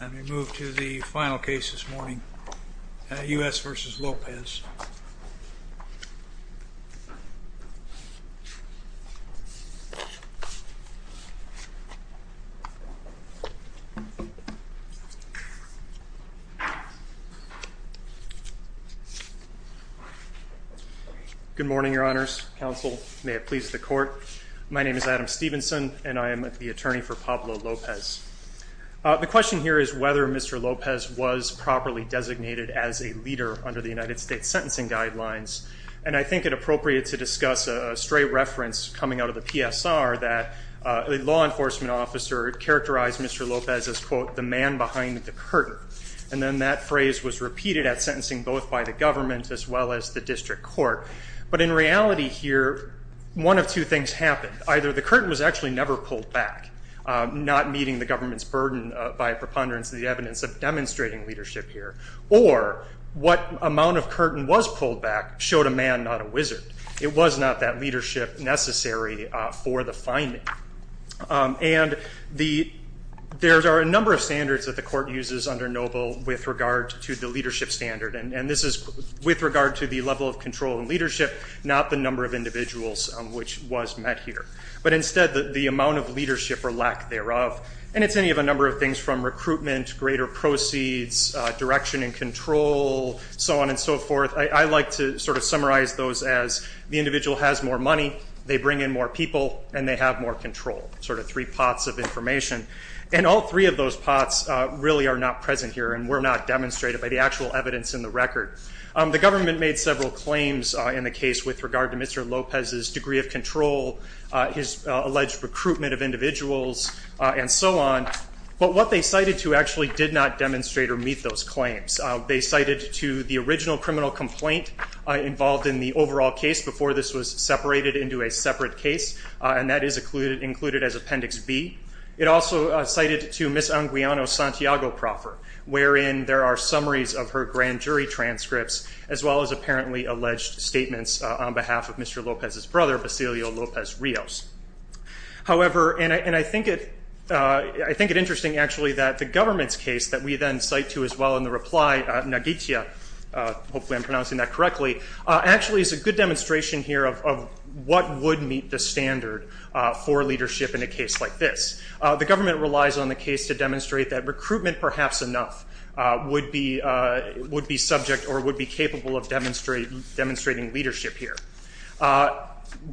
And we move to the final case this morning, U.S. v. Lopez. Good morning, your honors, counsel, may it please the court. My name is Adam The question here is whether Mr. Lopez was properly designated as a leader under the United States sentencing guidelines. And I think it appropriate to discuss a stray reference coming out of the PSR that a law enforcement officer characterized Mr. Lopez as, quote, the man behind the curtain. And then that phrase was repeated at sentencing both by the government as well as the district court. But in reality here, one of two things happened. Either the curtain was actually never pulled back, not meeting the government's burden by a preponderance of the evidence of demonstrating leadership here, or what amount of curtain was pulled back showed a man, not a wizard. It was not that leadership necessary for the finding. And there are a number of standards that the court uses under NOBLE with regard to the leadership standard. And this is with regard to the level of control and leadership, not the number of individuals which was met here. But instead, the amount of leadership or lack thereof. And it's any of a number of things from recruitment, greater proceeds, direction and control, so on and so forth. I like to sort of summarize those as the individual has more money, they bring in more people, and they have more control. Sort of three pots of information. And all three of those pots really are not present here and were not demonstrated by the actual evidence in the record. The government made several claims in the case with regard to Mr. Lopez's degree of control, his alleged recruitment of individuals, and so on. But what they cited to actually did not demonstrate or meet those claims. They cited to the original criminal complaint involved in the overall case before this was separated into a separate case, and that is included as Appendix B. It also cited to Ms. Anguiano's Santiago proffer, wherein there are summaries of her grand jury transcripts, as well as apparently alleged statements on behalf of Mr. Lopez's brother, Basilio Lopez Rios. However, and I think it interesting actually that the government's case that we then cite to as well in the reply, Nagitsia, hopefully I'm pronouncing that correctly, actually is a good demonstration here of what would meet the standard for leadership in a case like this. The government relies on the case to demonstrate that recruitment, perhaps enough, would be subject or would be capable of demonstrating leadership here.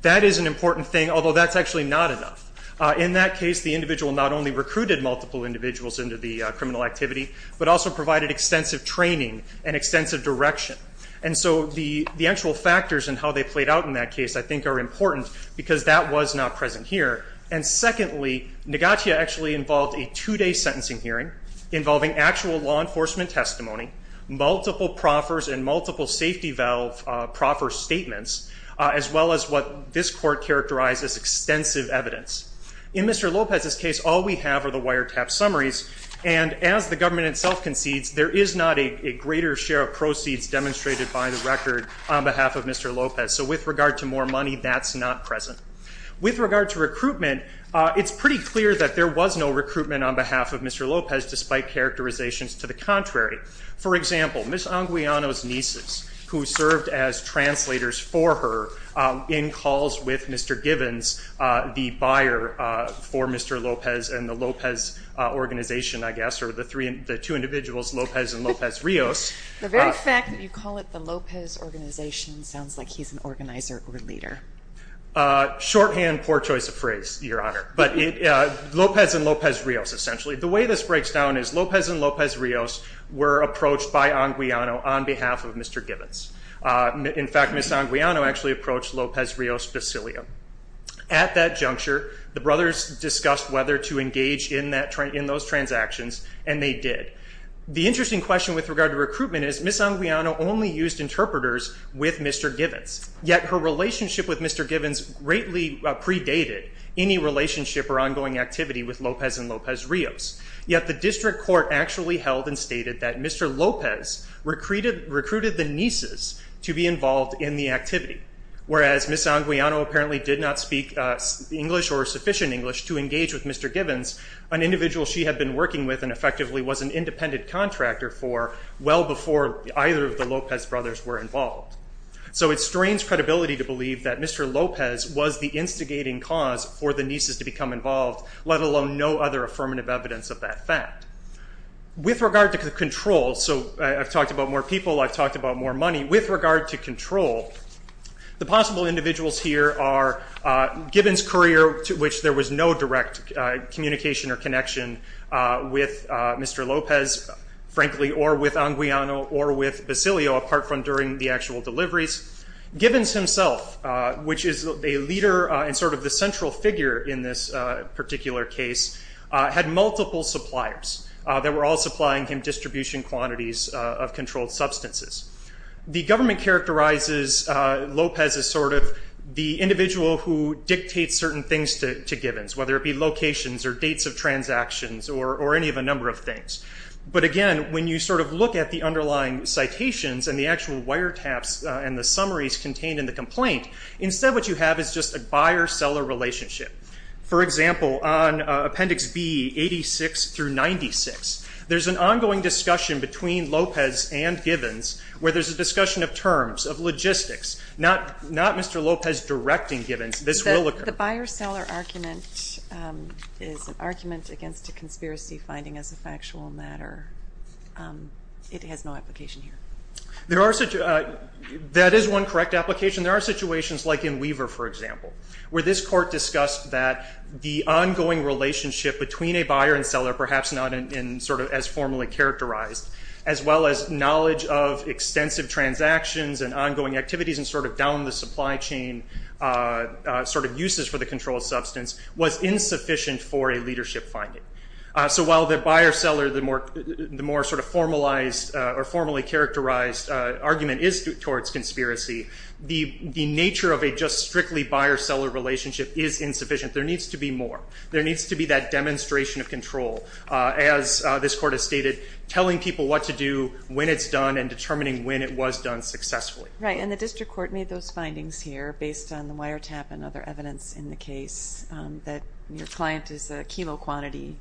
That is an important thing, although that's actually not enough. In that case, the individual not only recruited multiple individuals into the criminal activity, but also provided extensive training and extensive direction. And so the actual factors and how they played out in that case I think are important because that was not present here. And secondly, Nagitsia actually involved a two-day sentencing hearing involving actual law enforcement testimony, multiple proffers and multiple safety valve proffer statements, as well as what this court characterized as extensive evidence. In Mr. Lopez's case, all we have are the wiretap summaries, and as the government itself concedes, there is not a greater share of proceeds demonstrated by the record on behalf of Mr. Lopez. So with regard to more money, that's not present. With regard to recruitment, it's pretty clear that there was no recruitment on behalf of Mr. Lopez, despite characterizations to the contrary. For example, Ms. Anguiano's nieces, who served as translators for her in calls with Mr. Givens, the buyer for Mr. Lopez and the Lopez organization, I guess, or the two individuals, Lopez and Lopez Rios. The very fact that you call it the Lopez organization sounds like he's an organizer or leader. Shorthand, poor choice of phrase, Your Honor, but Lopez and Lopez Rios, essentially. The way this breaks down is Lopez and Lopez Rios were approached by Anguiano on behalf of Mr. Givens. In fact, Ms. Anguiano actually approached Lopez Rios Basilio. At that juncture, the brothers discussed whether to engage in those transactions, and they did. The interesting question with regard to recruitment is Ms. Anguiano only used interpreters with Mr. Givens. Yet, her relationship with Mr. Givens greatly predated any relationship or ongoing activity with Lopez and Lopez Rios. Yet, the district court actually held and stated that Mr. Lopez recruited the nieces to be involved in the activity, whereas Ms. Anguiano apparently did not speak English or sufficient English to engage with Mr. Givens, an individual she had been working with and effectively was an independent contractor for well before either of the Lopez brothers were involved. So it strains credibility to believe that Mr. Lopez was the instigating cause for the nieces to become involved, let alone no other affirmative evidence of that fact. With regard to control, so I've talked about more people, I've talked about more money. With regard to control, the possible individuals here are Givens' courier, to which there was no direct communication or connection with Mr. Lopez, frankly, or with Anguiano or with Basilio apart from during the actual deliveries. Givens himself, which is a leader and sort of the central figure in this particular case, had multiple suppliers that were all supplying him distribution quantities of controlled substances. The government characterizes Lopez as sort of the individual who dictates certain things to Givens, whether it be locations or dates of transactions or any of a number of things. But again, when you sort of look at the underlying citations and the actual wiretaps and the summaries contained in the complaint, instead what you have is just a buyer-seller relationship. For example, on Appendix B, 86 through 96, there's an ongoing discussion between Lopez and Givens where there's a discussion of terms, of logistics, not Mr. Lopez directing Givens. The buyer-seller argument is an argument against a conspiracy finding as a factual matter. It has no application here. That is one correct application. There are situations like in Weaver, for example, where this court discussed that the ongoing relationship between a buyer and seller, perhaps not as formally characterized, as well as knowledge of extensive transactions and ongoing activities and sort of down the supply chain sort of uses for the controlled substance, was insufficient for a leadership finding. So while the buyer-seller, the more sort of formalized or formally characterized argument is towards conspiracy, the nature of a just strictly buyer-seller relationship is insufficient. There needs to be more. There needs to be that demonstration of control, as this court has stated, telling people what to do when it's done and determining when it was done successfully. Right, and the district court made those findings here based on the wiretap and other evidence in the case that your client is a chemo-quantity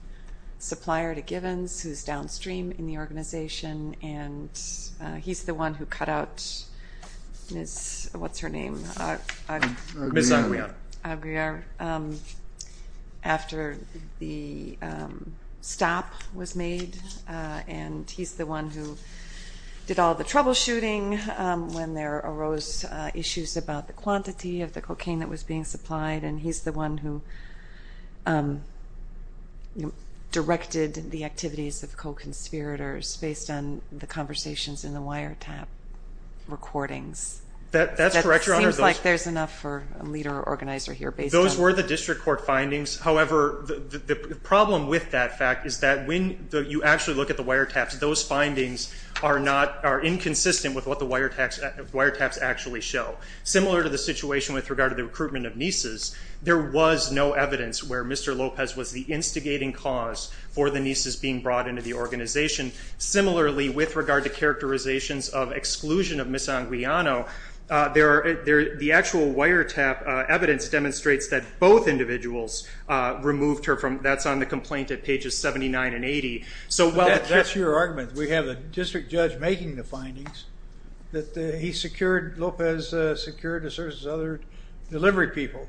supplier to Givens who's downstream in the organization and he's the one who cut out Miss, what's her name? Miss Aguiar. Aguiar after the stop was made and he's the one who did all the troubleshooting when there arose issues about the quantity of the cocaine that was being supplied and he's the one who directed the activities of co-conspirators based on the conversations in the wiretap recordings. That's correct, Your Honor. It seems like there's enough for a leader organizer here based on... Those were the district court findings. However, the problem with that fact is that when you actually look at the wiretaps, those findings are inconsistent with what the wiretaps actually show. Similar to the situation with regard to the recruitment of nieces, there was no evidence where Mr. Lopez was the instigating cause for the nieces being brought into the organization. Similarly, with regard to characterizations of exclusion of Miss Aguiano, the actual wiretap evidence demonstrates that both individuals removed her from... That's on the complaint at pages 79 and 80. That's your argument. We have a district judge making the findings that he secured, Lopez secured the services of other delivery people.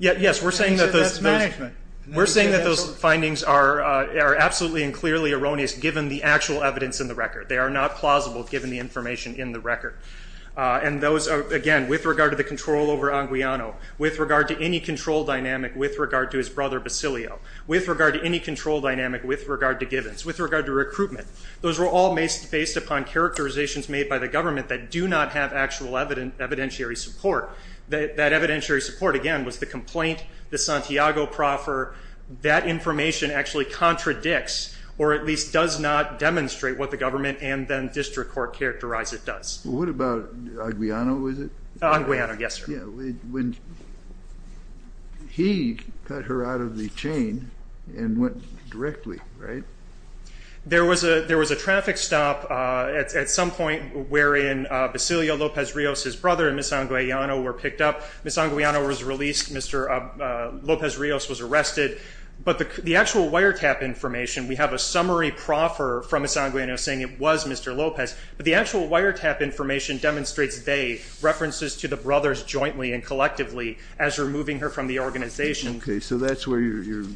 Yes, we're saying that those findings are absolutely and clearly erroneous given the actual evidence in the record. They are not plausible given the information in the record. Again, with regard to the control over Aguiano, with regard to any control dynamic with regard to his brother Basilio, with regard to any control dynamic with regard to Gibbons, with regard to recruitment, those were all based upon characterizations made by the government that do not have actual evidentiary support. That evidentiary support, again, was the complaint, the Santiago proffer, that information actually contradicts or at least does not demonstrate what the government and then district court characterize it does. What about Aguiano, is it? Aguiano, yes, sir. He cut her out of the chain and went directly, right? There was a traffic stop at some point wherein Basilio Lopez Rios' brother and Ms. Aguiano were picked up. Ms. Aguiano was released, Mr. Lopez Rios was arrested, but the actual wiretap information, we have a summary proffer from Ms. Aguiano saying it was Mr. Lopez, but the actual wiretap information demonstrates they, there are references to the brothers jointly and collectively as removing her from the organization. Okay, so that's where you're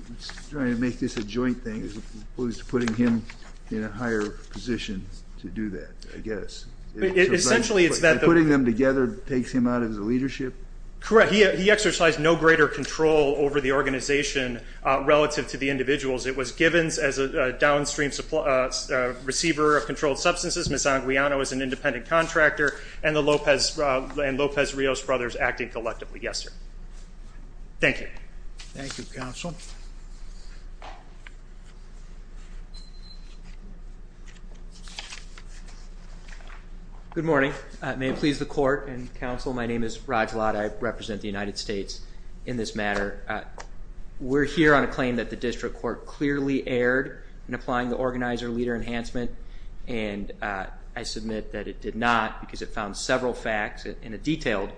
trying to make this a joint thing as opposed to putting him in a higher position to do that, I guess. Essentially, it's that... Putting them together takes him out of the leadership? Correct. He exercised no greater control over the organization relative to the individuals. It was Gibbons as a downstream receiver of controlled substances, Ms. Aguiano as an independent contractor, and the Lopez, and Lopez Rios' brothers acting collectively. Yes, sir. Thank you. Thank you, counsel. Good morning. May it please the court and counsel, my name is Raj Ladd. I represent the United States in this matter. We're here on a claim that the district court clearly erred in applying the organizer-leader enhancement, and I submit that it did not because it found several facts in a detailed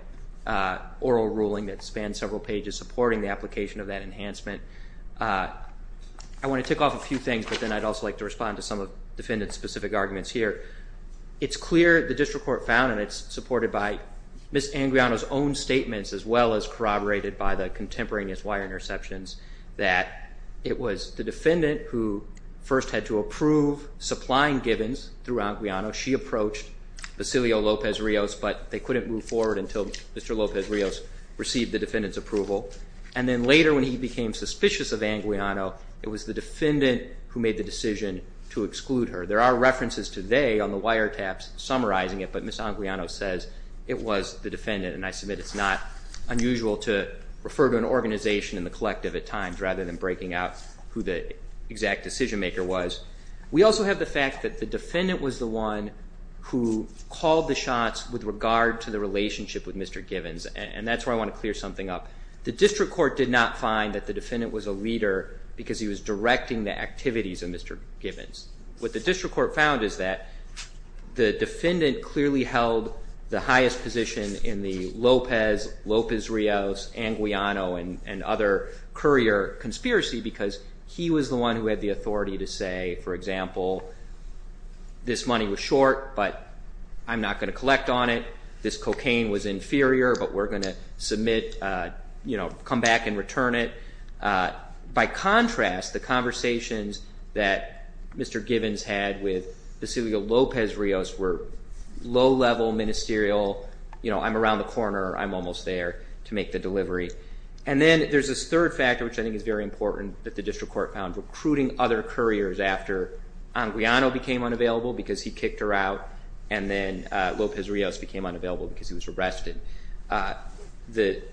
oral ruling that spans several pages supporting the application of that enhancement. I want to tick off a few things, but then I'd also like to respond to some of the defendant's specific arguments here. It's clear the district court found, and it's supported by Ms. Aguiano's own statements as well as corroborated by the contemporaneous wire interceptions, that it was the defendant who first had to approve supplying Gibbons through Aguiano. She approached Basilio Lopez Rios, but they couldn't move forward until Mr. Lopez Rios received the defendant's approval, and then later when he became suspicious of Aguiano, it was the defendant who made the decision to exclude her. There are references today on the wiretaps summarizing it, but Ms. Aguiano says it was the defendant, and I submit it's not unusual to refer to an organization in the collective at times rather than breaking out who the exact decision-maker was. We also have the fact that the defendant was the one who called the shots with regard to the relationship with Mr. Gibbons, and that's where I want to clear something up. The district court did not find that the defendant was a leader because he was directing the activities of Mr. Gibbons. What the district court found is that the defendant clearly held the highest position in the Lopez, Lopez Rios, Aguiano and other courier conspiracy because he was the one who had the authority to say for example, this money was short, but I'm not going to collect on it, this cocaine was inferior, but we're going to submit, you know, come back and return it. By contrast, the conversations that Mr. Gibbons had with Vasilio Lopez Rios were low-level ministerial, you know, I'm around the corner, I'm almost there to make the delivery. And then there's this third factor which I think is very important that the district court found, recruiting other couriers after Aguiano became unavailable because he kicked her out, and then Lopez Rios became unavailable because he was arrested. The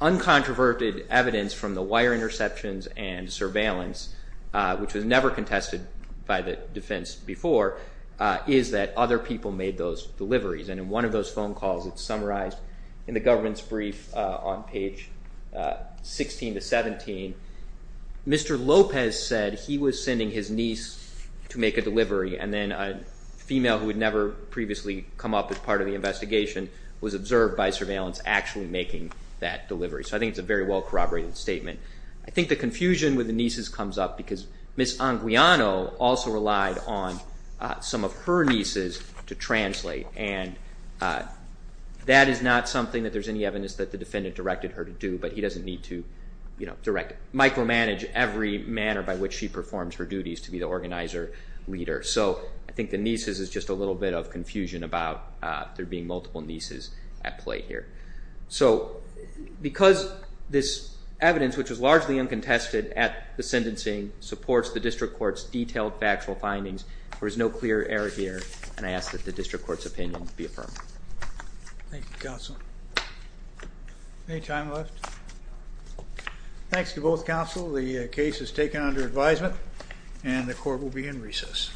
uncontroverted evidence from the wire interceptions and surveillance, which was never contested by the defense before, is that other people made those deliveries. And in one of those phone calls, it's summarized in the government's brief on page 16 to 17, Mr. Lopez said he was sending his niece to make a delivery and then a female who had never previously come up as part of the investigation was observed by surveillance actually making that delivery. So I think it's a very well corroborated statement. I think the confusion with the nieces comes up because Ms. Aguiano also relied on some of her nieces to translate and that is not something that there's any evidence that the defendant directed her to do, but he doesn't need to micromanage every manner by which she performs her duties to be the organizer leader. So I think the nieces is just a little bit of confusion about there being multiple nieces at play here. So because this evidence, which was largely uncontested at the sentencing, supports the district court's detailed factual findings, there is no clear error here and I ask that the district court's opinion be affirmed. Thank you, counsel. Any time left? Thanks to both counsel. The case is taken under advisement and the court will begin recess. Thank you.